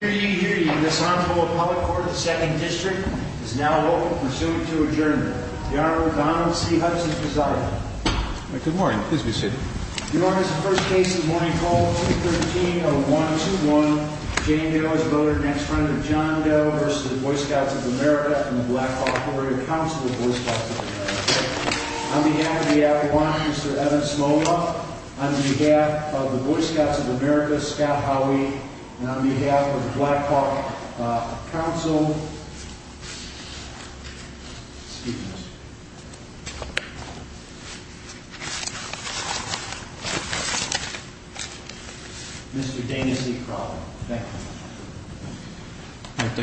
Hear ye, hear ye. This Honorable Appellate Court of the Second District is now open for suit to adjourn. The Honorable Donald C. Hudson presiding. Good morning. Please be seated. New York is the first case of the morning call. 2-13-0-1-2-1. Jane Doe is voted next friend of John Doe v. Boy Scouts of America and the Black Hawk Warrior Council of Boy Scouts of America. On behalf of the Avalanche, Mr. Evan Smola. On behalf of the Boy Scouts of America, Scott Howie. And on behalf of the Black Hawk Council, excuse me, Mr. Dana C. Crowley. Thank you.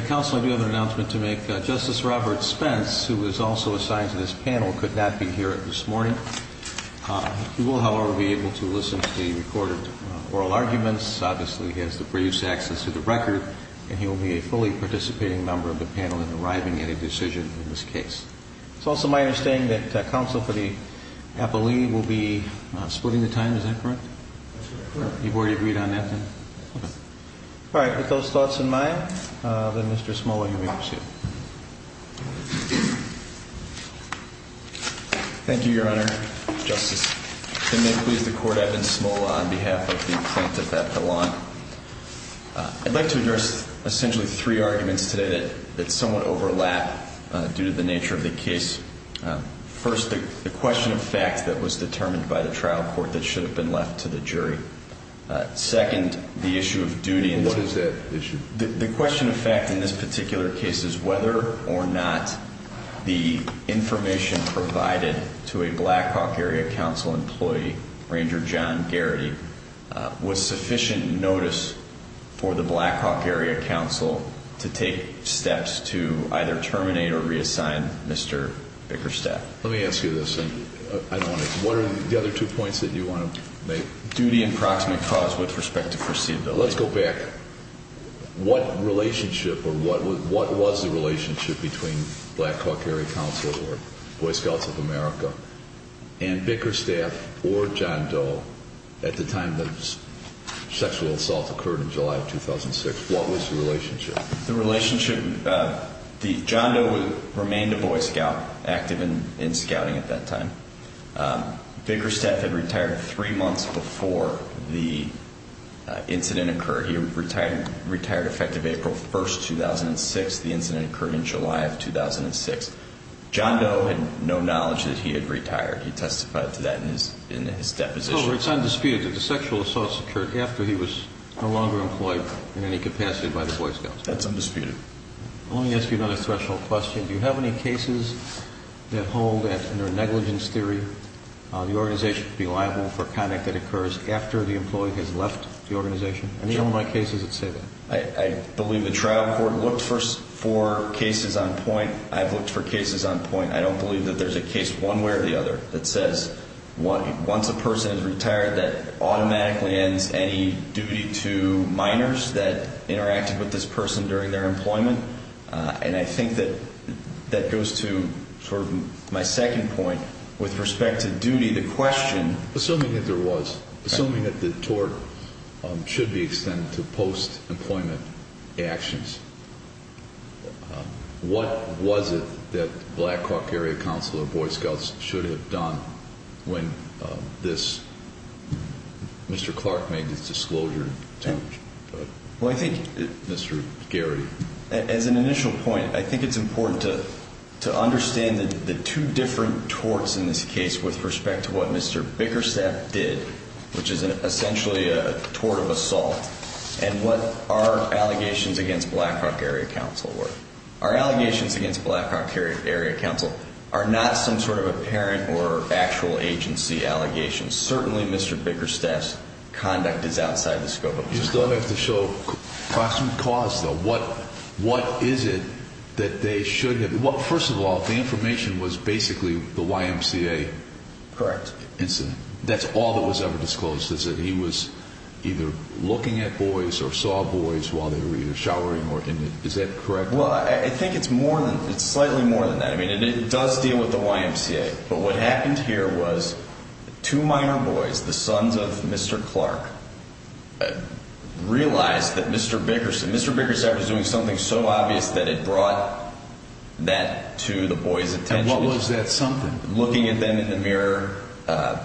Counsel, I do have an announcement to make. Justice Robert Spence, who is also assigned to this panel, could not be here this morning. He will, however, be able to listen to the recorded oral arguments. Obviously, he has the brief access to the record. And he will be a fully participating member of the panel in arriving at a decision in this case. It's also my understanding that counsel for the appellee will be splitting the time. Is that correct? You've already agreed on that then? All right. With those thoughts in mind, then Mr. Smola, you may proceed. Thank you, Your Honor. Justice, if you may please the court, Evan Smola on behalf of the plaintiff at the lawn. I'd like to address essentially three arguments today that somewhat overlap due to the nature of the case. First, the question of fact that was determined by the trial court that should have been left to the jury. Second, the issue of duty. And what is that issue? The question of fact in this particular case is whether or not the information provided to a Black Hawk Area Council employee, Ranger John Garrity, was sufficient notice for the Black Hawk Area Council to take steps to either terminate or reassign Mr. Bickerstadt. Let me ask you this. What are the other two points that you want to make? Duty and proximate cause with respect to foreseeability. Let's go back. What relationship or what was the relationship between Black Hawk Area Council or Boy Scouts of America and Bickerstadt or John Doe at the time the sexual assault occurred in July of 2006? What was the relationship? The relationship, John Doe remained a Boy Scout active in scouting at that time. Bickerstadt had retired three months before the incident occurred. He retired effective April 1st, 2006. The incident occurred in July of 2006. John Doe had no knowledge that he had retired. He testified to that in his deposition. So it's undisputed that the sexual assaults occurred after he was no longer employed in any capacity by the Boy Scouts? That's undisputed. Let me ask you another threshold question. Do you have any cases that hold that under negligence theory, the organization would be liable for conduct that occurs after the employee has left the organization? Any online cases that say that? I believe the trial court looked for cases on point. I've looked for cases on point. I don't believe that there's a case one way or the other that says once a person is retired that automatically ends any duty to minors that interacted with this person during their employment. And I think that that goes to sort of my second point with respect to duty. The question. Assuming that there was, assuming that the tort should be extended to post-employment actions. What was it that Black Hawk Area Council of Boy Scouts should have done when this Mr. Clark made this disclosure? Well, I think Mr. Gary, as an initial point, I think it's important to to understand the two different torts in this case with respect to what Mr. Bickerstaff did, which is essentially a tort of assault and what our allegations against Black Hawk Area Council were. Our allegations against Black Hawk Area Council are not some sort of apparent or actual agency allegations. Certainly, Mr. Bickerstaff's conduct is outside the scope of. You still have to show proximate cause, though. What what is it that they should have? Well, first of all, the information was basically the YMCA. Correct. That's all that was ever disclosed, is that he was either looking at boys or saw boys while they were either showering or in it. Is that correct? Well, I think it's more than it's slightly more than that. I mean, it does deal with the YMCA. But what happened here was two minor boys, the sons of Mr. Clark, realized that Mr. Bickerstaff was doing something so obvious that it brought that to the boys attention. And what was that something? Looking at them in the mirror,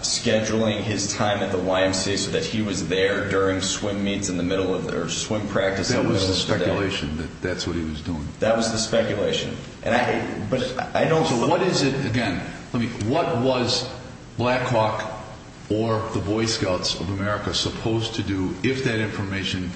scheduling his time at the YMCA so that he was there during swim meets in the middle of their swim practice. That was the speculation that that's what he was doing. That was the speculation. And I but I don't know what is it again. I mean, what was Black Hawk or the Boy Scouts of America supposed to do if that information,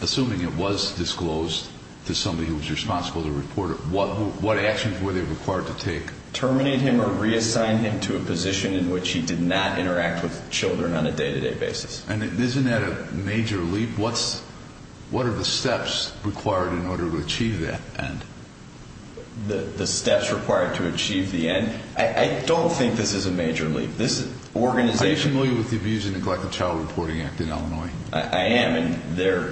assuming it was disclosed to somebody who was responsible to report it? What what actions were they required to take? Terminate him or reassign him to a position in which he did not interact with children on a day to day basis. And isn't that a major leap? What's what are the steps required in order to achieve that? And the steps required to achieve the end? I don't think this is a major leap. This organization. Are you familiar with the Abuse and Neglect of Child Reporting Act in Illinois? I am. And they're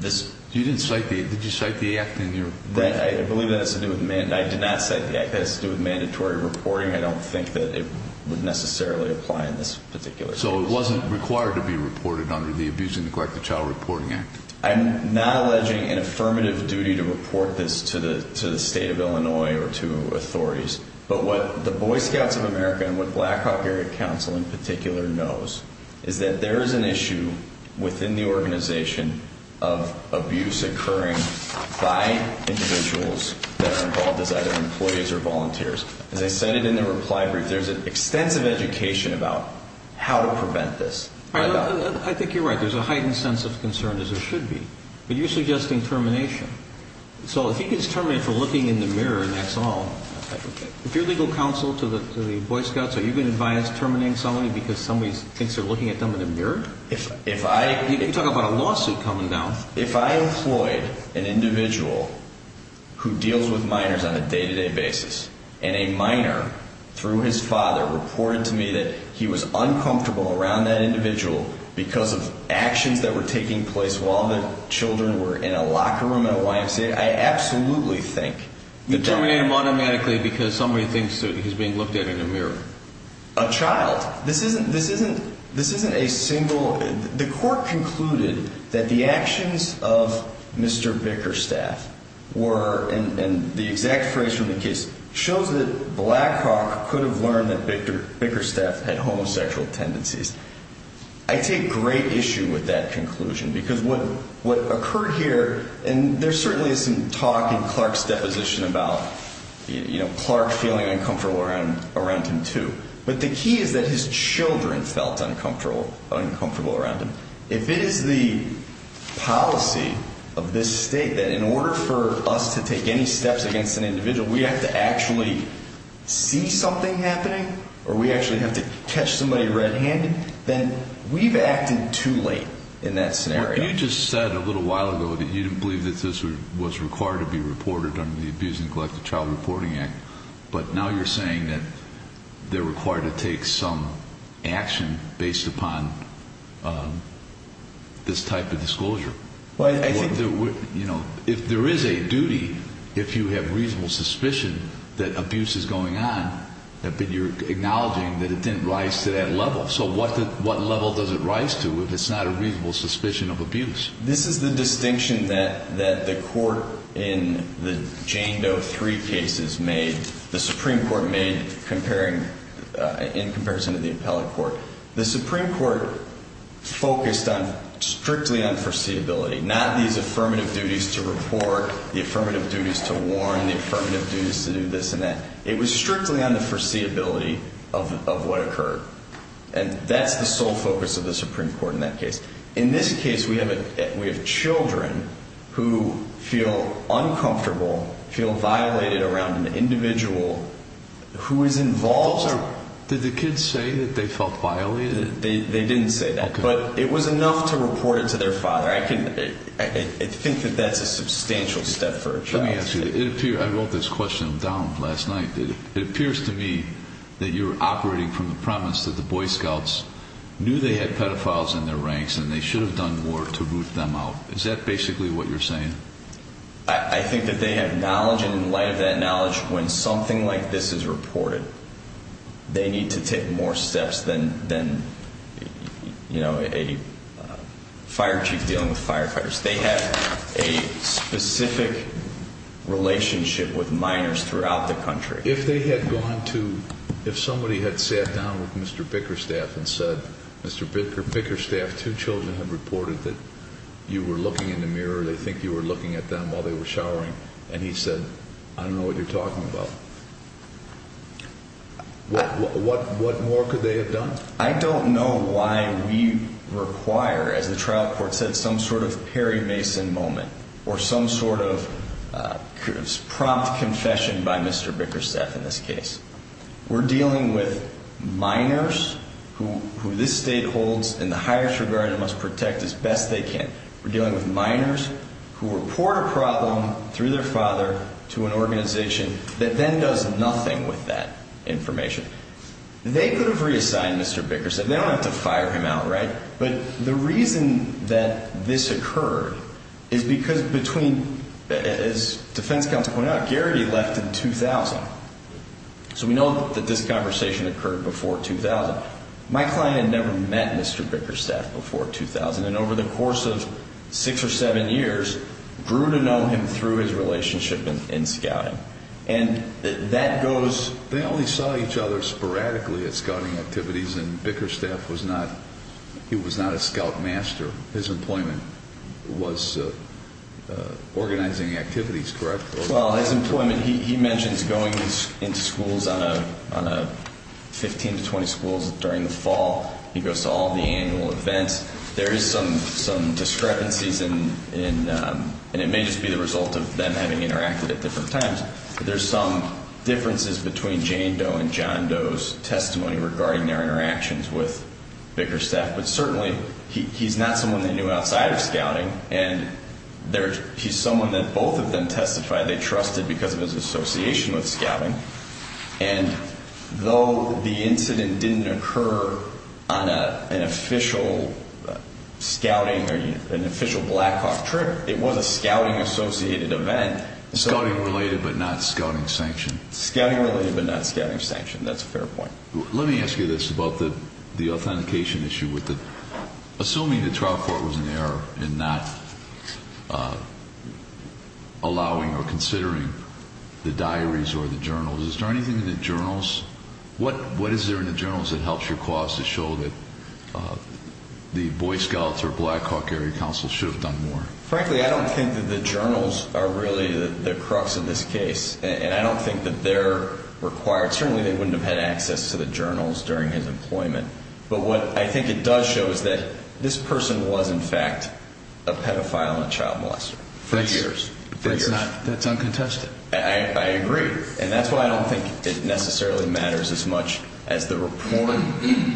this. You didn't cite the. Did you cite the act in your. Right. I believe that has to do with men. I did not say that has to do with mandatory reporting. I don't think that it would necessarily apply in this particular. So it wasn't required to be reported under the Abuse and Neglect of Child Reporting Act. I'm not alleging an affirmative duty to report this to the to the state of Illinois or to authorities. But what the Boy Scouts of America and what Black Hawk Area Council in particular knows is that there is an issue within the organization of abuse occurring by individuals that are involved as either employees or volunteers. As I cited in the reply brief, there's an extensive education about how to prevent this. I think you're right. There's a heightened sense of concern, as there should be. But you're suggesting termination. So if he gets terminated for looking in the mirror and that's all, if you're legal counsel to the Boy Scouts, are you going to advise terminating somebody because somebody thinks they're looking at them in a mirror? If I. You can talk about a lawsuit coming down. If I employed an individual who deals with minors on a day-to-day basis and a minor, through his father, reported to me that he was uncomfortable around that individual because of actions that were taking place while the children were in a locker room at a YMCA, I absolutely think. You'd terminate him automatically because somebody thinks that he's being looked at in a mirror. A child. This isn't a single. The court concluded that the actions of Mr. Bickerstaff were, and the exact phrase from the case shows that Blackrock could have learned that Bickerstaff had homosexual tendencies. I take great issue with that conclusion because what occurred here, and there certainly is some talk in Clark's deposition about Clark feeling uncomfortable around him, too. But the key is that his children felt uncomfortable around him. If it is the policy of this state that in order for us to take any steps against an individual, we have to actually see something happening or we actually have to catch somebody red-handed, then we've acted too late in that scenario. You just said a little while ago that you didn't believe that this was required to be reported under the Abuse and Collective Child Reporting Act, but now you're saying that they're required to take some action based upon this type of disclosure. If there is a duty, if you have reasonable suspicion that abuse is going on, you're acknowledging that it didn't rise to that level. So what level does it rise to if it's not a reasonable suspicion of abuse? This is the distinction that the court in the Jane Doe three cases made, the Supreme Court made in comparison to the appellate court. The Supreme Court focused strictly on foreseeability, not these affirmative duties to report, the affirmative duties to warn, the affirmative duties to do this and that. It was strictly on the foreseeability of what occurred. And that's the sole focus of the Supreme Court in that case. In this case, we have children who feel uncomfortable, feel violated around an individual who is involved. Did the kids say that they felt violated? They didn't say that, but it was enough to report it to their father. I think that that's a substantial step for a child. Let me ask you, I wrote this question down last night. It appears to me that you're operating from the premise that the Boy Scouts knew they had pedophiles in their ranks and they should have done more to root them out. Is that basically what you're saying? I think that they have knowledge, and in light of that knowledge, when something like this is reported, they need to take more steps than, you know, a fire chief dealing with firefighters. They have a specific relationship with minors throughout the country. If they had gone to – if somebody had sat down with Mr. Bickerstaff and said, Mr. Bickerstaff, two children have reported that you were looking in the mirror, they think you were looking at them while they were showering, and he said, I don't know what you're talking about, what more could they have done? I don't know why we require, as the trial court said, some sort of Perry Mason moment or some sort of prompt confession by Mr. Bickerstaff in this case. We're dealing with minors who this state holds in the highest regard and must protect as best they can. We're dealing with minors who report a problem through their father to an organization that then does nothing with that information. They could have reassigned Mr. Bickerstaff. They don't have to fire him outright. But the reason that this occurred is because between – as defense counsel pointed out, Garrity left in 2000. So we know that this conversation occurred before 2000. My client had never met Mr. Bickerstaff before 2000, and over the course of six or seven years, grew to know him through his relationship in scouting. And that goes – They only saw each other sporadically at scouting activities, and Bickerstaff was not – he was not a scout master. His employment was organizing activities, correct? Well, his employment – he mentions going into schools on a – 15 to 20 schools during the fall. He goes to all the annual events. There is some discrepancies in – and it may just be the result of them having interacted at different times. But there's some differences between Jane Doe and John Doe's testimony regarding their interactions with Bickerstaff. But certainly, he's not someone they knew outside of scouting, and he's someone that both of them testified they trusted because of his association with scouting. And though the incident didn't occur on an official scouting or an official Blackhawk trip, it was a scouting-associated event. Scouting-related but not scouting-sanctioned. Scouting-related but not scouting-sanctioned. That's a fair point. Let me ask you this about the authentication issue. Assuming the trial court was in error in not allowing or considering the diaries or the journals, is there anything in the journals – what is there in the journals that helps your cause to show that the Boy Scouts or Blackhawk Area Council should have done more? Frankly, I don't think that the journals are really the crux of this case. And I don't think that they're required – certainly, they wouldn't have had access to the journals during his employment. But what I think it does show is that this person was, in fact, a pedophile and a child molester for years. That's uncontested. I agree. And that's why I don't think it necessarily matters as much as the report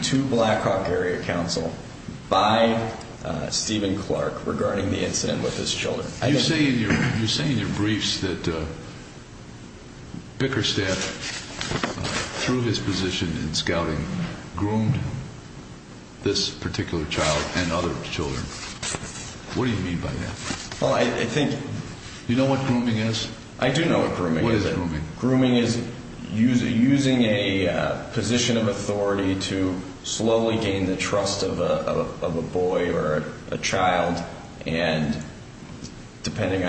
to Blackhawk Area Council by Stephen Clark regarding the incident with his children. You say in your briefs that Bickerstaff, through his position in scouting, groomed this particular child and other children. What do you mean by that? Well, I think – Do you know what grooming is? What is grooming? Depending on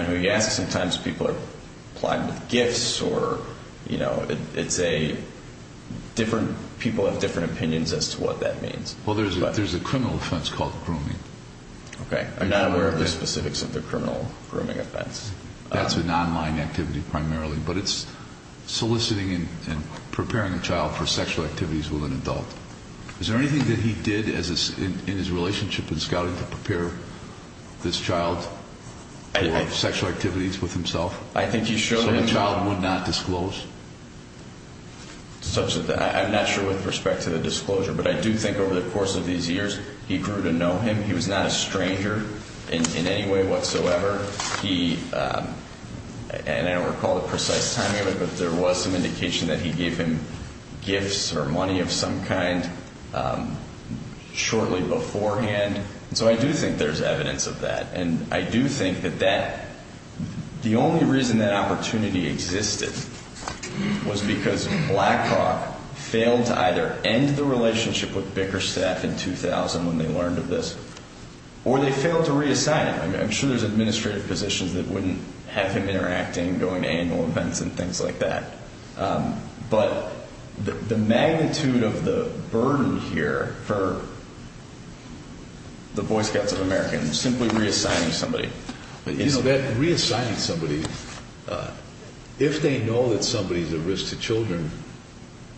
who you ask, sometimes people are plotting with gifts or, you know, it's a – different people have different opinions as to what that means. Well, there's a criminal offense called grooming. Okay. I'm not aware of the specifics of the criminal grooming offense. That's an online activity primarily, but it's soliciting and preparing a child for sexual activities with an adult. Is there anything that he did in his relationship in scouting to prepare this child for sexual activities with himself? I think he showed him – So the child would not disclose? I'm not sure with respect to the disclosure, but I do think over the course of these years he grew to know him. He was not a stranger in any way whatsoever. He – and I don't recall the precise timing of it, but there was some indication that he gave him gifts or money of some kind shortly beforehand. And so I do think there's evidence of that. And I do think that that – the only reason that opportunity existed was because Blackhawk failed to either end the relationship with Bickerstaff in 2000 when they learned of this, or they failed to reassign him. I'm sure there's administrative positions that wouldn't have him interacting, going to annual events and things like that. But the magnitude of the burden here for the Boy Scouts of America in simply reassigning somebody is – You know, that reassigning somebody, if they know that somebody's a risk to children,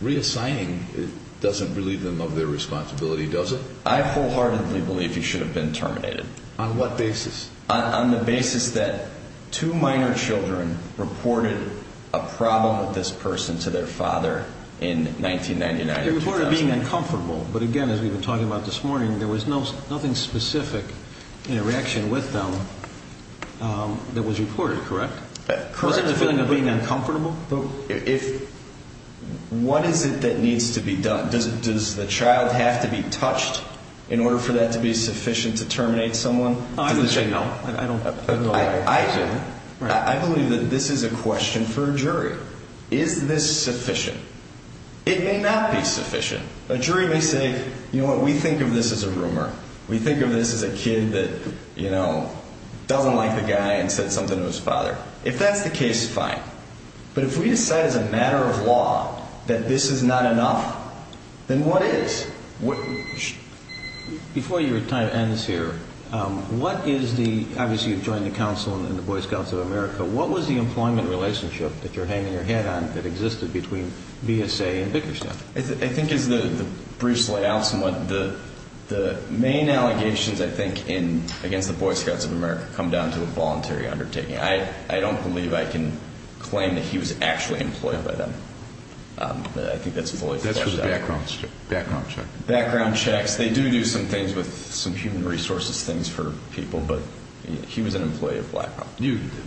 reassigning doesn't relieve them of their responsibility, does it? I wholeheartedly believe he should have been terminated. On what basis? On the basis that two minor children reported a problem with this person to their father in 1999 and 2000. They reported being uncomfortable, but again, as we've been talking about this morning, there was nothing specific in a reaction with them that was reported, correct? Correct. Wasn't it a feeling of being uncomfortable? What is it that needs to be done? Does the child have to be touched in order for that to be sufficient to terminate someone? I believe that this is a question for a jury. Is this sufficient? It may not be sufficient. A jury may say, you know what, we think of this as a rumor. We think of this as a kid that doesn't like the guy and said something to his father. If that's the case, fine. But if we decide as a matter of law that this is not enough, then what is? Before your time ends here, what is the, obviously you've joined the council and the Boy Scouts of America, what was the employment relationship that you're hanging your head on that existed between BSA and Vickerson? I think as the briefs lay out somewhat, the main allegations I think against the Boy Scouts of America come down to a voluntary undertaking. I don't believe I can claim that he was actually employed by them. I think that's fully fleshed out. That's just a background check. Background checks. They do do some things with some human resources things for people, but he was an employee of BlackRock.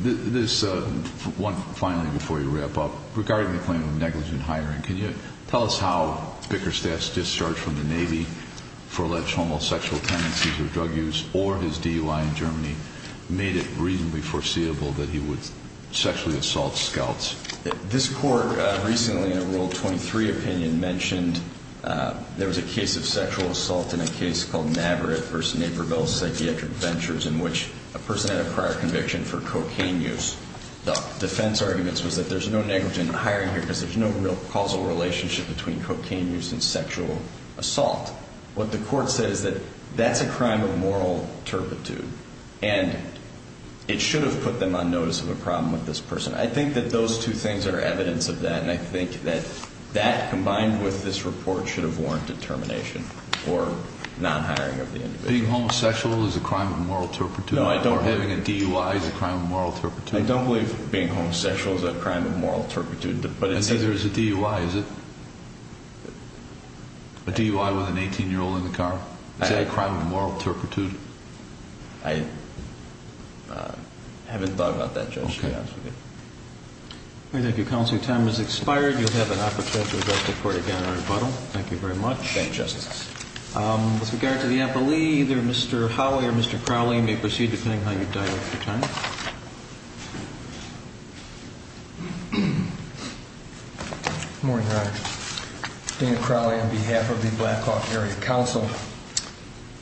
This one, finally, before you wrap up, regarding the claim of negligent hiring, can you tell us how Vickerson's discharge from the Navy for alleged homosexual tendencies or drug use or his DUI in Germany made it reasonably foreseeable that he would sexually assault scouts? This court recently in a Rule 23 opinion mentioned there was a case of sexual assault in a case called Navarrete v. Naperville Psychiatric Ventures in which a person had a prior conviction for cocaine use. The defense arguments was that there's no negligent hiring here because there's no real causal relationship between cocaine use and sexual assault. What the court says is that that's a crime of moral turpitude, and it should have put them on notice of a problem with this person. I think that those two things are evidence of that, and I think that that combined with this report should have warranted termination or non-hiring of the individual. Being homosexual is a crime of moral turpitude? No, I don't believe it. Or having a DUI is a crime of moral turpitude? I don't believe being homosexual is a crime of moral turpitude. I see there's a DUI, is it? A DUI with an 18-year-old in the car? Is that a crime of moral turpitude? I haven't thought about that, Judge. Okay. Thank you, counsel. Your time has expired. You'll have an opportunity to address the court again in rebuttal. Thank you very much. Thank you, Justice. With regard to the appellee, either Mr. Hawley or Mr. Crowley may proceed depending on how you've done with your time. Good morning, Your Honor. Dan Crowley on behalf of the Black Hawk Area Council.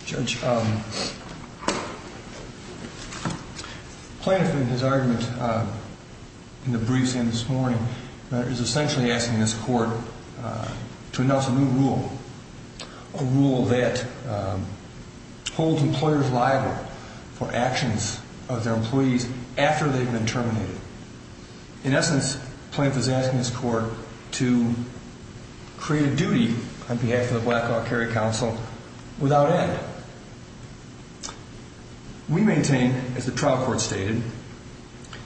Judge, Plaintiff in his argument in the briefs in this morning is essentially asking this court to announce a new rule, a rule that holds employers liable for actions of their employees after they've been terminated. In essence, Plaintiff is asking this court to create a duty on behalf of the Black Hawk Area Council without end. We maintain, as the trial court stated,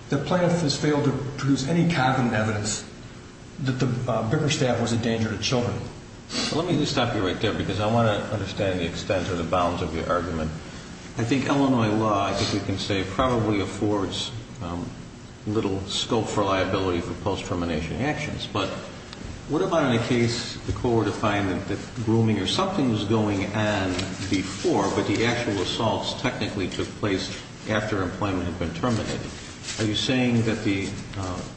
that Plaintiff has failed to produce any covenant evidence that the bricker staff was a danger to children. Let me just stop you right there because I want to understand the extent or the bounds of your argument. I think Illinois law, I think we can say, probably affords little scope for liability for post-termination actions. But what about in a case the court would find that grooming or something was going on before, but the actual assaults technically took place after employment had been terminated? Are you saying that the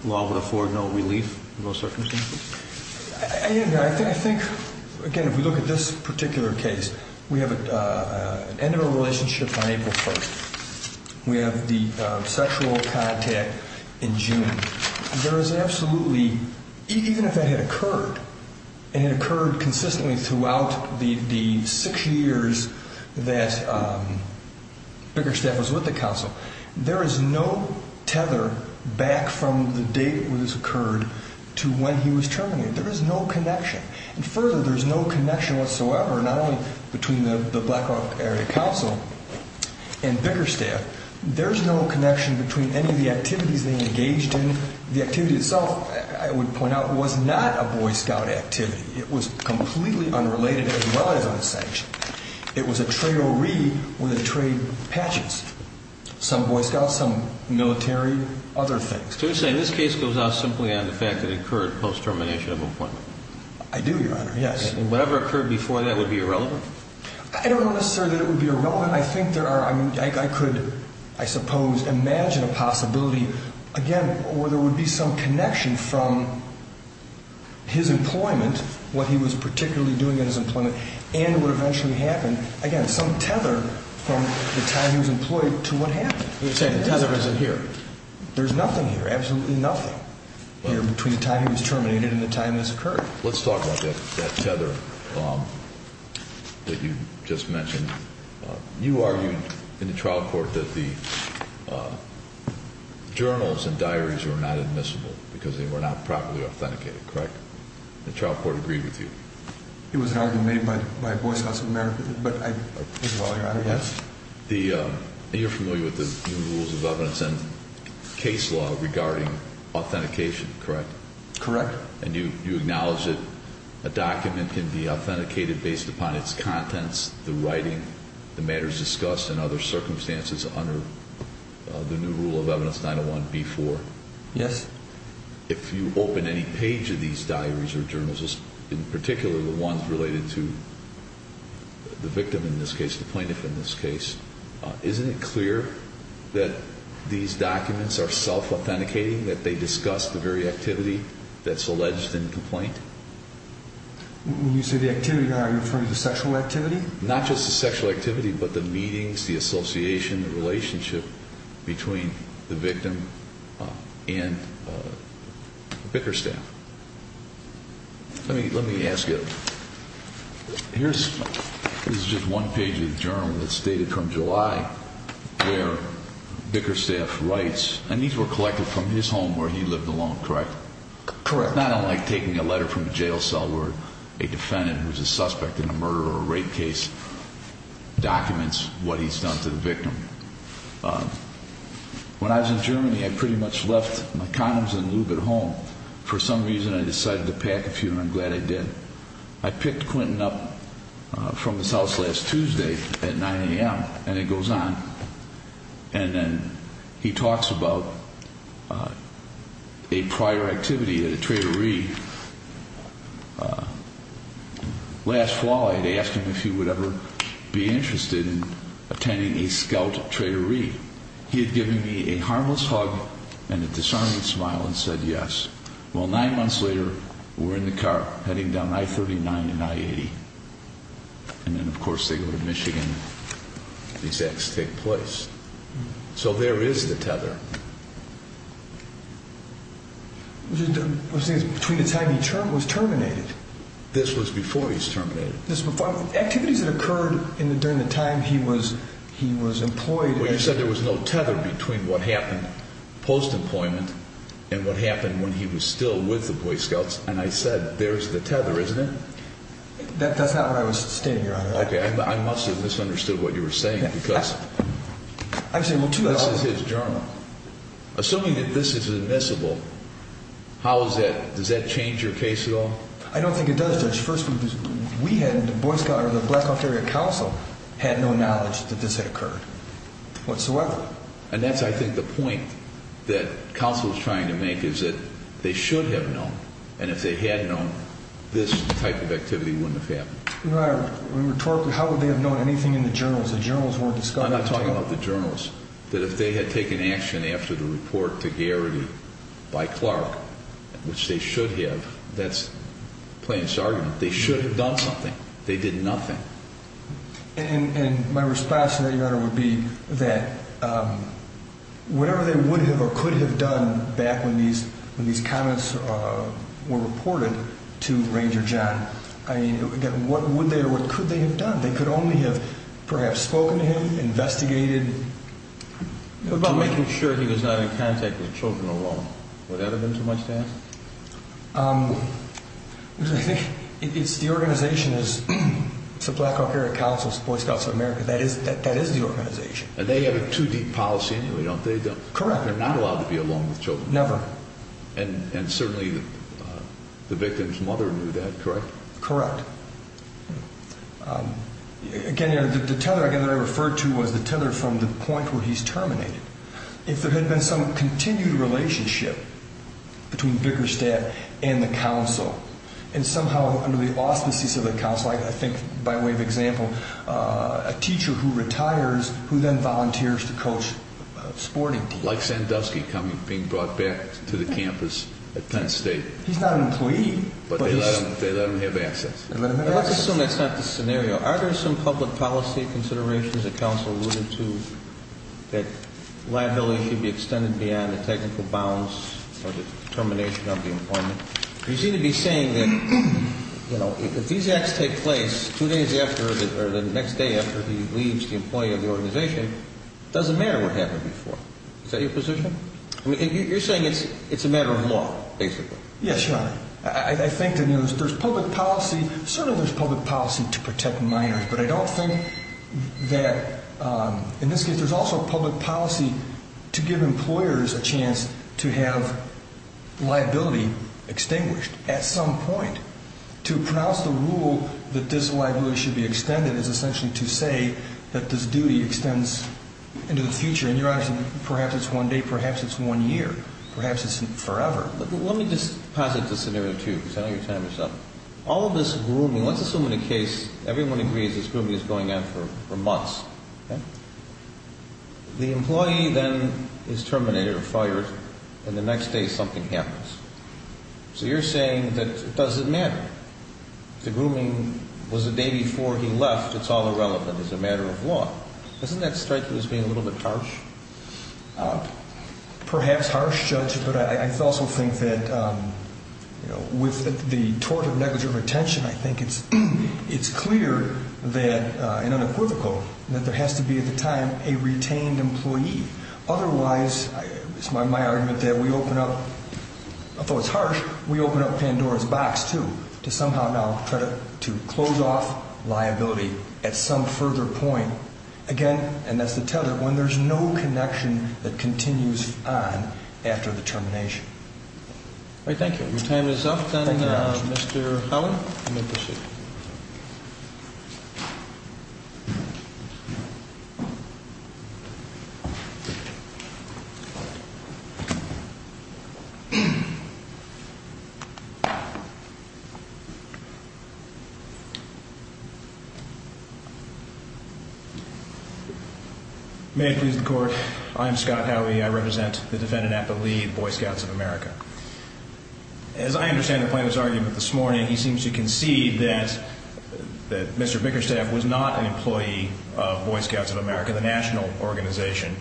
law would afford no relief in those circumstances? I think, again, if we look at this particular case, we have an end of a relationship on April 1st. We have the sexual contact in June. There is absolutely, even if that had occurred, and it occurred consistently throughout the six years that Bricker Staff was with the council, there is no tether back from the date when this occurred to when he was terminated. There is no connection. And further, there's no connection whatsoever, not only between the Black Hawk Area Council and Bricker Staff, there's no connection between any of the activities they engaged in. The activity itself, I would point out, was not a Boy Scout activity. It was completely unrelated as well as unsanctioned. It was a tray-o-ree with a tray of patches. Some Boy Scouts, some military, other things. So you're saying this case goes out simply on the fact that it occurred post-termination of employment? I do, Your Honor, yes. And whatever occurred before that would be irrelevant? I don't know necessarily that it would be irrelevant. I think there are, I mean, I could, I suppose, imagine a possibility, again, where there would be some connection from his employment, what he was particularly doing in his employment, and what eventually happened, again, some tether from the time he was employed to what happened. You're saying the tether isn't here? There's nothing here, absolutely nothing here between the time he was terminated and the time this occurred. Let's talk about that tether that you just mentioned. You argued in the trial court that the journals and diaries were not admissible because they were not properly authenticated, correct? The trial court agreed with you? It was an argument made by Boy Scouts of America, but I think of all your arguments. You're familiar with the new rules of evidence and case law regarding authentication, correct? Correct. And you acknowledge that a document can be authenticated based upon its contents, the writing, the matters discussed, and other circumstances under the new rule of evidence 901b-4? Yes. If you open any page of these diaries or journals, in particular the ones related to the victim in this case, the plaintiff in this case, isn't it clear that these documents are self-authenticating, that they discuss the very activity that's alleged in the complaint? When you say the activity, are you referring to sexual activity? Not just the sexual activity, but the meetings, the association, the relationship between the victim and Bickerstaff. Let me ask you, this is just one page of the journal that's dated from July where Bickerstaff writes, and these were collected from his home where he lived alone, correct? Correct. It's not unlike taking a letter from a jail cell where a defendant who's a suspect in a murder or a rape case documents what he's done to the victim. When I was in Germany, I pretty much left my condoms and lube at home. For some reason, I decided to pack a few, and I'm glad I did. I picked Quentin up from his house last Tuesday at 9 a.m., and it goes on. And then he talks about a prior activity at a traderie. Last fall, I had asked him if he would ever be interested in attending a scout traderie. He had given me a harmless hug and a disheartened smile and said yes. Well, nine months later, we're in the car heading down I-39 and I-80, and then, of course, they go to Michigan. These acts take place. So there is the tether. Between the time he was terminated. This was before he was terminated. Activities that occurred during the time he was employed. Well, you said there was no tether between what happened post-employment and what happened when he was still with the Boy Scouts, and I said, there's the tether, isn't it? That's not what I was stating, Your Honor. Okay, I must have misunderstood what you were saying because this is his journal. Assuming that this is admissible, does that change your case at all? I don't think it does, Judge. First, we had, the Boy Scouts, or the Black Ontario Council, had no knowledge that this had occurred whatsoever. And that's, I think, the point that counsel is trying to make is that they should have known, and if they had known, this type of activity wouldn't have happened. Your Honor, rhetorically, how would they have known anything in the journals? The journals weren't discovered. I'm not talking about the journals. That if they had taken action after the report to Garrity by Clark, which they should have, that's plain as argument, they should have done something. They did nothing. And my response to that, Your Honor, would be that whatever they would have or could have done back when these comments were reported to Ranger John, I mean, again, what would they or what could they have done? They could only have perhaps spoken to him, investigated. What about making sure he was not in contact with children alone? Would that have been too much to ask? The organization is the Black Ontario Council, Boy Scouts of America. That is the organization. They have a too-deep policy anyway, don't they? Correct. They're not allowed to be alone with children. Never. And certainly the victim's mother knew that, correct? Correct. Again, the tether I referred to was the tether from the point where he's terminated. If there had been some continued relationship between Vickerstadt and the council and somehow under the auspices of the council, I think by way of example, a teacher who retires who then volunteers to coach a sporting team. Like Sandusky being brought back to the campus at Penn State. He's not an employee. But they let him have access. Let's assume that's not the scenario. Are there some public policy considerations the council alluded to that liability should be extended beyond the technical bounds or the termination of the employment? You seem to be saying that if these acts take place two days after or the next day after he leaves the employee of the organization, it doesn't matter what happened before. Is that your position? You're saying it's a matter of law, basically. Yes, Your Honor. I think there's public policy. Certainly there's public policy to protect minors. But I don't think that in this case there's also public policy to give employers a chance to have liability extinguished at some point. To pronounce the rule that this liability should be extended is essentially to say that this duty extends into the future. And, Your Honor, perhaps it's one day, perhaps it's one year, perhaps it's forever. Let me just pass it to Scenario 2 because I know you're time is up. All of this grooming, let's assume in the case everyone agrees this grooming is going on for months. The employee then is terminated or fired and the next day something happens. So you're saying that it doesn't matter. The grooming was the day before he left. It's all irrelevant. It's a matter of law. Isn't that striking as being a little bit harsh? Perhaps harsh, Judge, but I also think that with the tort of negligent retention, I think it's clear and unequivocal that there has to be at the time a retained employee. Otherwise, it's my argument that we open up, although it's harsh, we open up Pandora's box too to somehow now try to close off liability at some further point. Again, and that's the tether, when there's no connection that continues on after the termination. All right. Thank you. Your time is up. Thank you very much, Judge. Mr. Howie, you may proceed. May it please the Court. I'm Scott Howie. I represent the defendant at the Lee Boy Scouts of America. As I understand the plaintiff's argument this morning, he seems to concede that Mr. Bickerstaff was not an employee of Boy Scouts of America, the national organization,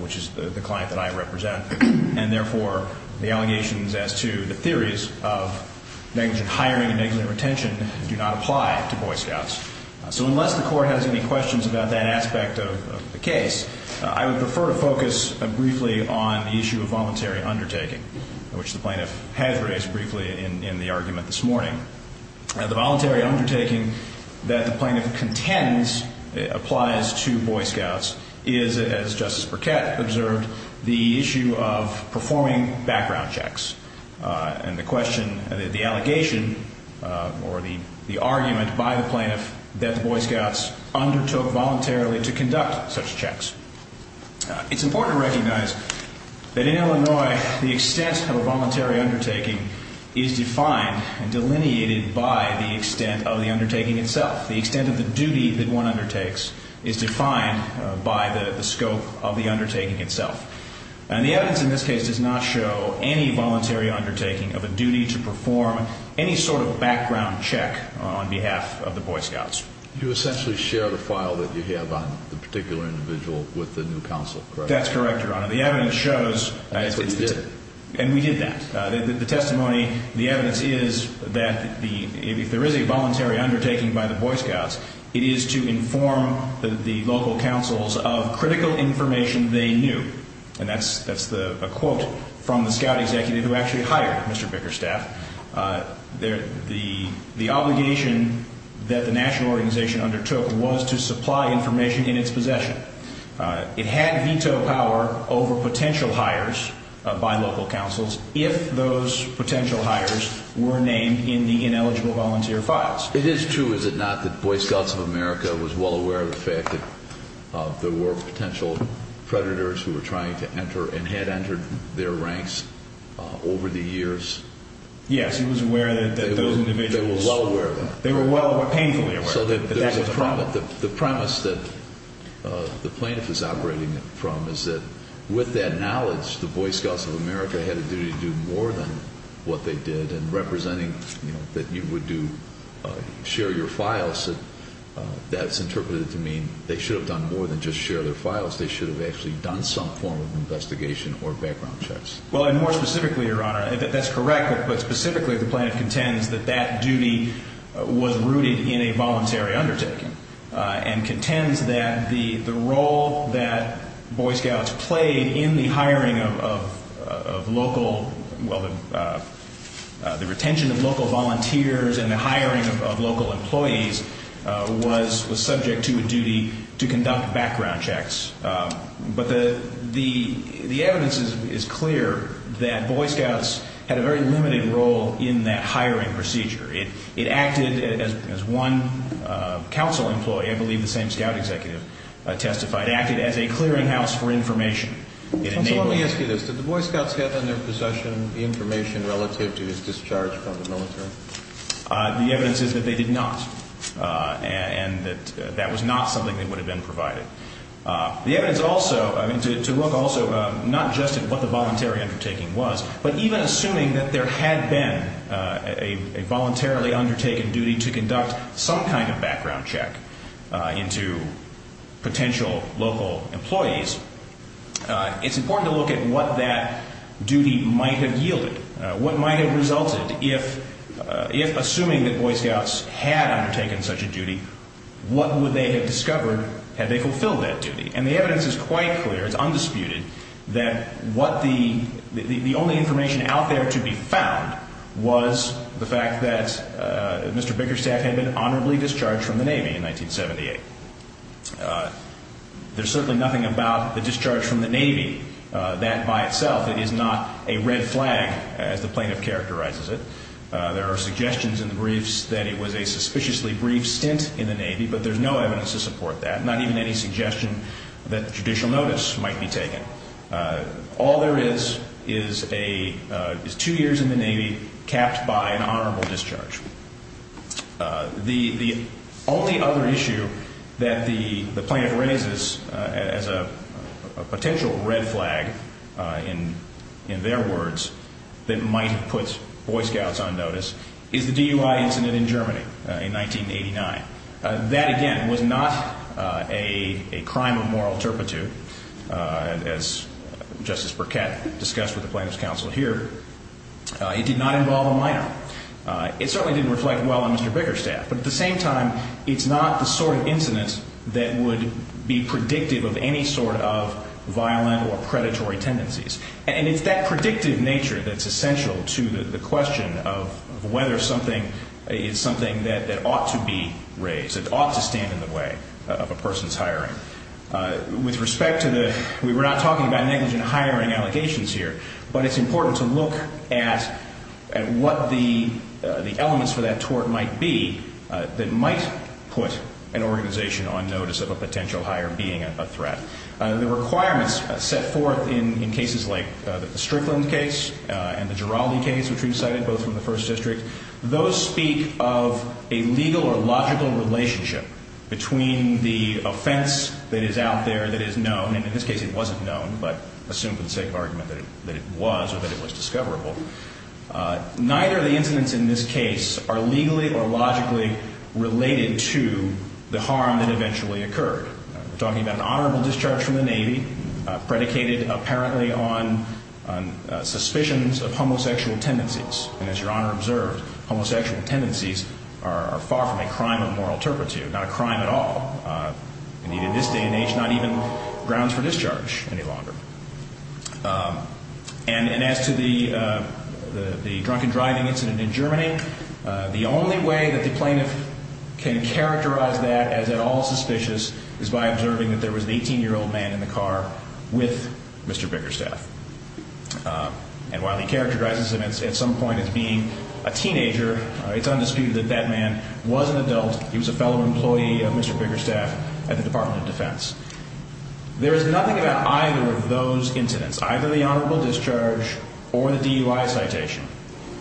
which is the client that I represent, and therefore the allegations as to the theories of negligent hiring and negligent retention do not apply to Boy Scouts. So unless the Court has any questions about that aspect of the case, I would prefer to focus briefly on the issue of voluntary undertaking, which the plaintiff has raised briefly in the argument this morning. The voluntary undertaking that the plaintiff contends applies to Boy Scouts is, as Justice Burkett observed, the issue of performing background checks. And the question, the allegation, or the argument by the plaintiff that the Boy Scouts undertook voluntarily to conduct such checks. It's important to recognize that in Illinois the extent of a voluntary undertaking is defined and delineated by the extent of the undertaking itself. The extent of the duty that one undertakes is defined by the scope of the undertaking itself. And the evidence in this case does not show any voluntary undertaking of a duty to perform any sort of background check on behalf of the Boy Scouts. You essentially share the file that you have on the particular individual with the new counsel, correct? That's correct, Your Honor. The evidence shows... And that's what you did. And we did that. The testimony, the evidence is that if there is a voluntary undertaking by the Boy Scouts, it is to inform the local councils of critical information they knew. And that's a quote from the scout executive who actually hired Mr. Bickerstaff. The obligation that the national organization undertook was to supply information in its possession. It had veto power over potential hires by local councils if those potential hires were named in the ineligible volunteer files. It is true, is it not, that Boy Scouts of America was well aware of the fact that there were potential predators who were trying to enter and had entered their ranks over the years? Yes, it was aware that those individuals... They were well aware of it. They were painfully aware of it. The premise that the plaintiff is operating from is that with that knowledge, the Boy Scouts of America had a duty to do more than what they did. And representing that you would share your files, that's interpreted to mean they should have done more than just share their files. They should have actually done some form of investigation or background checks. Well, and more specifically, Your Honor, that's correct, but specifically the plaintiff contends that that duty was rooted in a voluntary undertaking and contends that the role that Boy Scouts played in the hiring of local... well, the retention of local volunteers and the hiring of local employees was subject to a duty to conduct background checks. But the evidence is clear that Boy Scouts had a very limited role in that hiring procedure. It acted as one council employee, I believe the same scout executive testified, acted as a clearinghouse for information. Counsel, let me ask you this. Did the Boy Scouts have in their possession information relative to his discharge from the military? The evidence is that they did not, and that that was not something that would have been provided. The evidence also, I mean, to look also not just at what the voluntary undertaking was, but even assuming that there had been a voluntarily undertaken duty to conduct some kind of background check into potential local employees, it's important to look at what that duty might have yielded, what might have resulted if, assuming that Boy Scouts had undertaken such a duty, what would they have discovered had they fulfilled that duty? And the evidence is quite clear, it's undisputed, that the only information out there to be found was the fact that Mr. Bickerstaff had been honorably discharged from the Navy in 1978. There's certainly nothing about the discharge from the Navy that by itself is not a red flag, as the plaintiff characterizes it. There are suggestions in the briefs that it was a suspiciously brief stint in the Navy, but there's no evidence to support that, not even any suggestion that judicial notice might be taken. All there is is two years in the Navy capped by an honorable discharge. The only other issue that the plaintiff raises as a potential red flag, in their words, that might have put Boy Scouts on notice is the DUI incident in Germany in 1989. That, again, was not a crime of moral turpitude, as Justice Burkett discussed with the plaintiff's counsel here. It did not involve a minor. It certainly didn't reflect well on Mr. Bickerstaff, but at the same time it's not the sort of incident that would be predictive of any sort of violent or predatory tendencies. And it's that predictive nature that's essential to the question of whether something is something that ought to be raised, that ought to stand in the way of a person's hiring. With respect to the ñ we're not talking about negligent hiring allegations here, but it's important to look at what the elements for that tort might be that might put an organization on notice of a potential hire being a threat. The requirements set forth in cases like the Strickland case and the Giraldi case, which we've cited both from the First District, those speak of a legal or logical relationship between the offense that is out there, that is known, and in this case it wasn't known, but assumed for the sake of argument that it was or that it was discoverable. Neither of the incidents in this case are legally or logically related to the harm that eventually occurred. We're talking about an honorable discharge from the Navy, predicated apparently on suspicions of homosexual tendencies. And as Your Honor observed, homosexual tendencies are far from a crime of moral turpitude, not a crime at all. Indeed, in this day and age, not even grounds for discharge any longer. And as to the drunken driving incident in Germany, the only way that the plaintiff can characterize that as at all suspicious is by observing that there was an 18-year-old man in the car with Mr. Bickerstaff. And while he characterizes him at some point as being a teenager, it's undisputed that that man was an adult. He was a fellow employee of Mr. Bickerstaff at the Department of Defense. There is nothing about either of those incidents, either the honorable discharge or the DUI citation,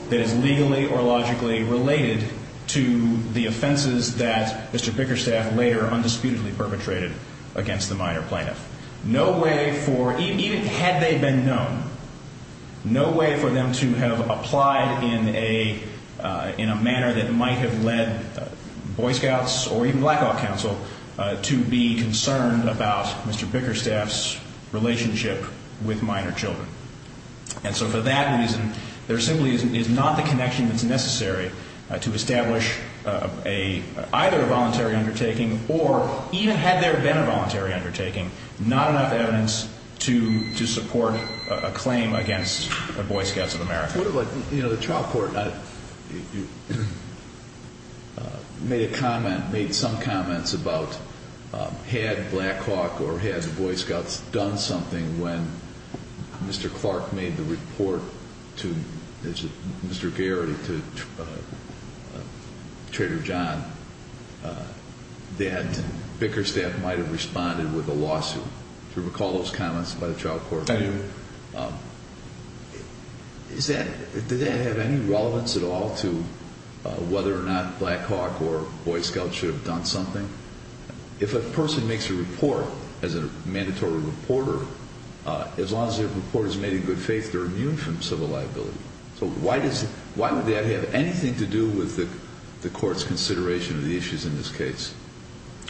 that is legally or logically related to the offenses that Mr. Bickerstaff later undisputedly perpetrated against the minor plaintiff. No way for, even had they been known, no way for them to have applied in a manner that might have led Boy Scouts or even Black Hawk Council to be concerned about Mr. Bickerstaff's relationship with minor children. And so for that reason, there simply is not the connection that's necessary to establish either a voluntary undertaking or, even had there been a voluntary undertaking, not enough evidence to support a claim against the Boy Scouts of America. It's sort of like, you know, the trial court made a comment, made some comments about had Black Hawk or had the Boy Scouts done something when Mr. Clark made the report to Mr. Garrity, to Trader John, that Bickerstaff might have responded with a lawsuit. Do you recall those comments by the trial court? I do. Is that, did that have any relevance at all to whether or not Black Hawk or Boy Scouts should have done something? If a person makes a report as a mandatory reporter, as long as their report is made in good faith, they're immune from civil liability. So why does, why would that have anything to do with the court's consideration of the issues in this case?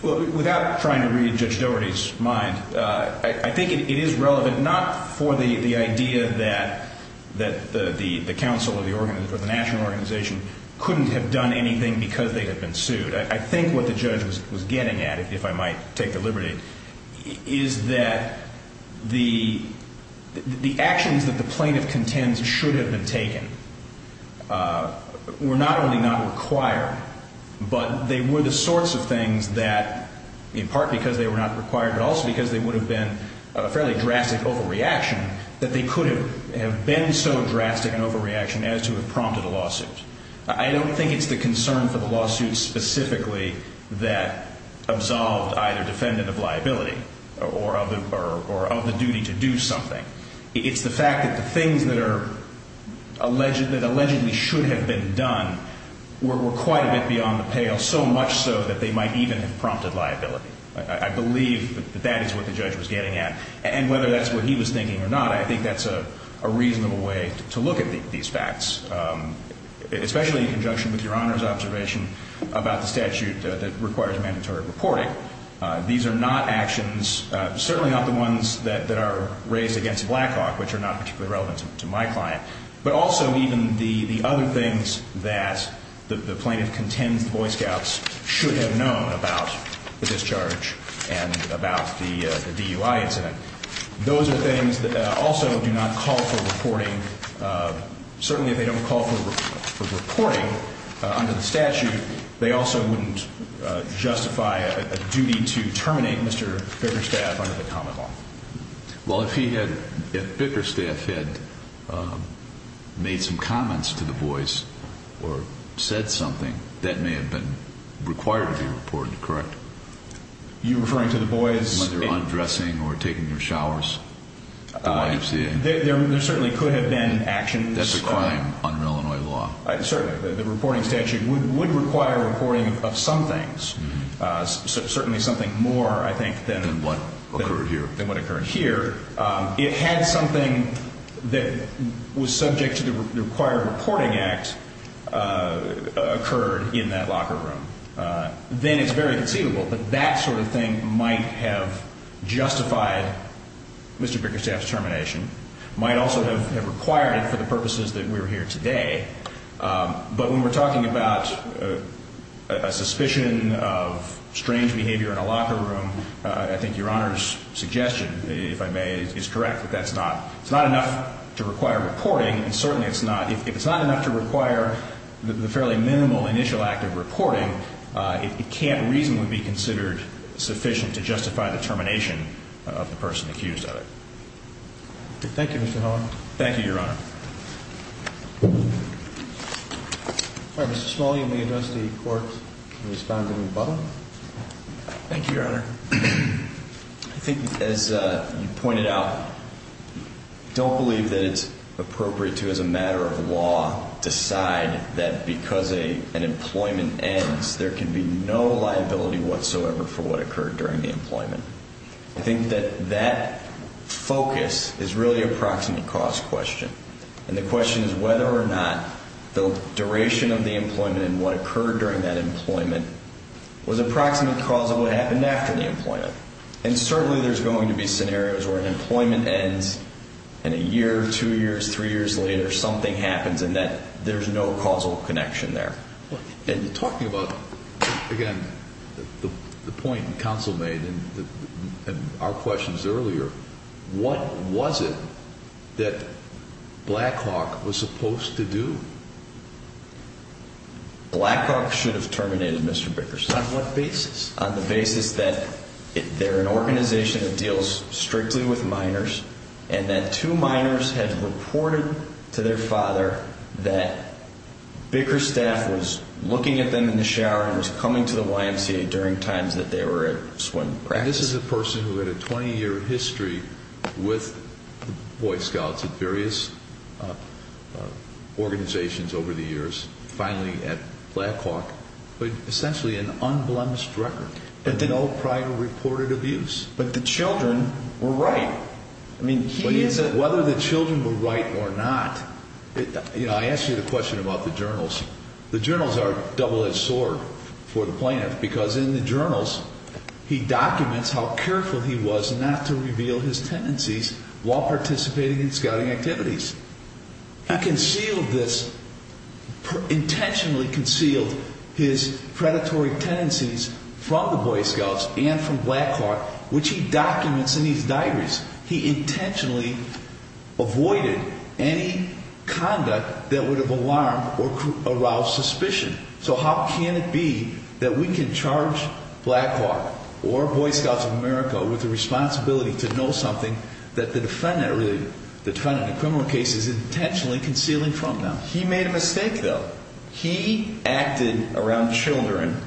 Well, without trying to read Judge Doherty's mind, I think it is relevant not for the idea that the council or the national organization couldn't have done anything because they had been sued. I think what the judge was getting at, if I might take the liberty, is that the actions that the plaintiff contends should have been taken were not only not required, but they were the sorts of things that, in part because they were not required, but also because they would have been a fairly drastic overreaction, that they could have been so drastic an overreaction as to have prompted a lawsuit. I don't think it's the concern for the lawsuit specifically that absolved either defendant of liability or of the duty to do something. It's the fact that the things that are alleged, that allegedly should have been done, were quite a bit beyond the pale, so much so that they might even have prompted liability. I believe that that is what the judge was getting at. And whether that's what he was thinking or not, I think that's a reasonable way to look at these facts. Especially in conjunction with Your Honor's observation about the statute that requires mandatory reporting. These are not actions, certainly not the ones that are raised against Blackhawk, which are not particularly relevant to my client, but also even the other things that the plaintiff contends the Boy Scouts should have known about the discharge and about the DUI incident. Those are things that also do not call for reporting. Certainly if they don't call for reporting under the statute, they also wouldn't justify a duty to terminate Mr. Bickerstaff under the common law. Well, if Bickerstaff had made some comments to the boys or said something, that may have been required to be reported, correct? You're referring to the boys? Whether undressing or taking their showers, the YMCA. There certainly could have been actions. That's a crime under Illinois law. Certainly. The reporting statute would require reporting of some things, certainly something more, I think, than what occurred here. It had something that was subject to the required reporting act occurred in that locker room. Then it's very conceivable that that sort of thing might have justified Mr. Bickerstaff's termination, might also have required it for the purposes that we're here today. But when we're talking about a suspicion of strange behavior in a locker room, I think Your Honor's suggestion, if I may, is correct that that's not enough to require reporting. And certainly it's not. If it's not enough to require the fairly minimal initial act of reporting, it can't reasonably be considered sufficient to justify the termination of the person accused of it. Thank you, Mr. Howell. Thank you, Your Honor. All right. Mr. Smully, may I address the Court in responding to Butler? Thank you, Your Honor. I think, as you pointed out, don't believe that it's appropriate to, as a matter of law, decide that because an employment ends, there can be no liability whatsoever for what occurred during the employment. I think that that focus is really a proximate cause question. And the question is whether or not the duration of the employment and what occurred during that employment was a proximate cause of what happened after the employment. And certainly there's going to be scenarios where an employment ends and a year, two years, three years later, something happens and that there's no causal connection there. And talking about, again, the point counsel made in our questions earlier, what was it that Blackhawk was supposed to do? Blackhawk should have terminated Mr. Bickerstaff. On what basis? On the basis that they're an organization that deals strictly with minors and that two minors had reported to their father that Bickerstaff was looking at them in the shower and was coming to the YMCA during times that they were at swim practice. And this is a person who had a 20-year history with Boy Scouts at various organizations over the years, finally at Blackhawk, but essentially an unblemished record. And did no prior reported abuse. But the children were right. I mean, whether the children were right or not, you know, I asked you the question about the journals. The journals are double-edged sword for the plaintiff because in the journals he documents how careful he was not to reveal his tendencies while participating in scouting activities. He concealed this, intentionally concealed his predatory tendencies from the Boy Scouts and from Blackhawk, which he documents in his diaries. He intentionally avoided any conduct that would have alarmed or aroused suspicion. So how can it be that we can charge Blackhawk or Boy Scouts of America with the responsibility to know something that the defendant in a criminal case is intentionally concealing from them? He made a mistake, though. He acted around children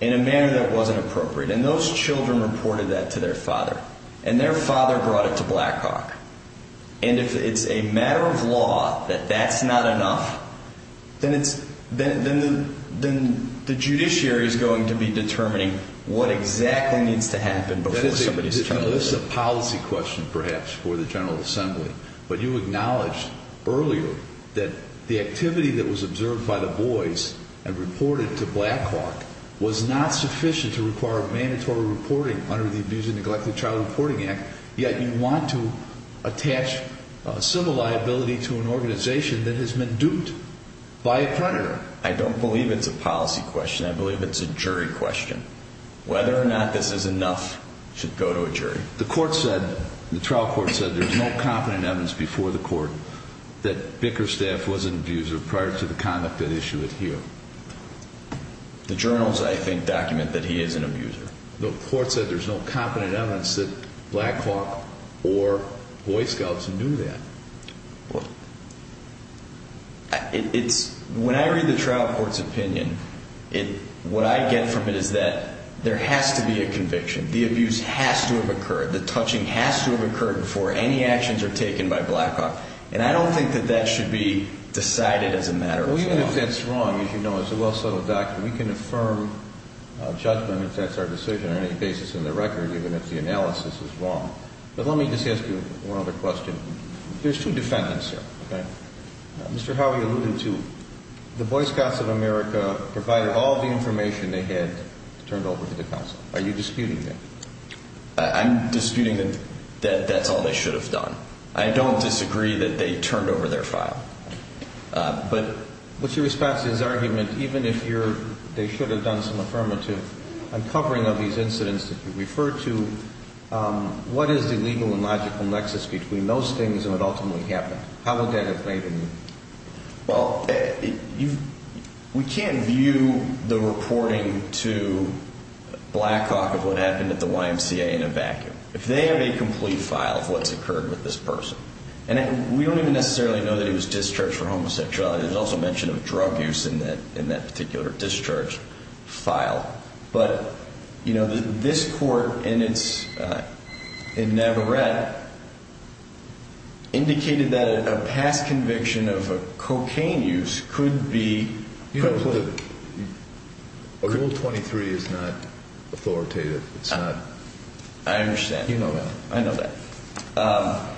in a manner that wasn't appropriate. And those children reported that to their father. And their father brought it to Blackhawk. And if it's a matter of law that that's not enough, then the judiciary is going to be determining what exactly needs to happen before somebody is charged. This is a policy question, perhaps, for the General Assembly. But you acknowledged earlier that the activity that was observed by the boys and reported to Blackhawk was not sufficient to require mandatory reporting under the Abuse and Neglect of Child Reporting Act, yet you want to attach civil liability to an organization that has been duped by a predator. I don't believe it's a policy question. I believe it's a jury question. Whether or not this is enough should go to a jury. The trial court said there's no confident evidence before the court that Bickerstaff was an abuser prior to the conduct at issue here. The journals, I think, document that he is an abuser. The court said there's no confident evidence that Blackhawk or Boy Scouts knew that. When I read the trial court's opinion, what I get from it is that there has to be a conviction. The abuse has to have occurred. The touching has to have occurred before any actions are taken by Blackhawk. And I don't think that that should be decided as a matter of law. Even if that's wrong, as you know, it's a well-settled document. We can affirm judgment if that's our decision on any basis in the record, even if the analysis is wrong. But let me just ask you one other question. There's two defendants here. Mr. Howey alluded to the Boy Scouts of America provided all the information they had turned over to the counsel. Are you disputing that? I'm disputing that that's all they should have done. I don't disagree that they turned over their file. But what's your response to his argument? Even if they should have done some affirmative uncovering of these incidents that you referred to, what is the legal and logical nexus between those things and what ultimately happened? How would that have played in? Well, we can't view the reporting to Blackhawk of what happened at the YMCA in a vacuum. If they have a complete file of what's occurred with this person, and we don't even necessarily know that he was discharged for homosexuality. There's also mention of drug use in that particular discharge file. But, you know, this court in Navarrete indicated that a past conviction of cocaine use could be... Rule 23 is not authoritative. I understand. You know that. I know that.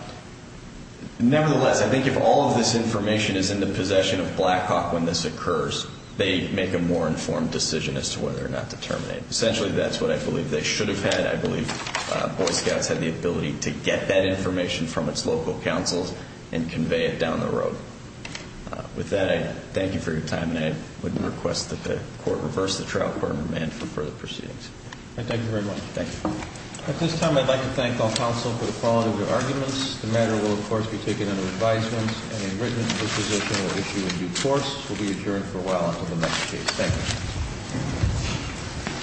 Nevertheless, I think if all of this information is in the possession of Blackhawk when this occurs, they make a more informed decision as to whether or not to terminate. Essentially, that's what I believe they should have had. I believe Boy Scouts had the ability to get that information from its local counsels and convey it down the road. With that, I thank you for your time, and I would request that the Court reverse the trial court and remand for further proceedings. Thank you very much. Thank you. At this time, I'd like to thank all counsel for the quality of your arguments. The matter will, of course, be taken under advisement, and a written disposition will issue a due course. We'll be adjourned for a while until the next case. Thank you.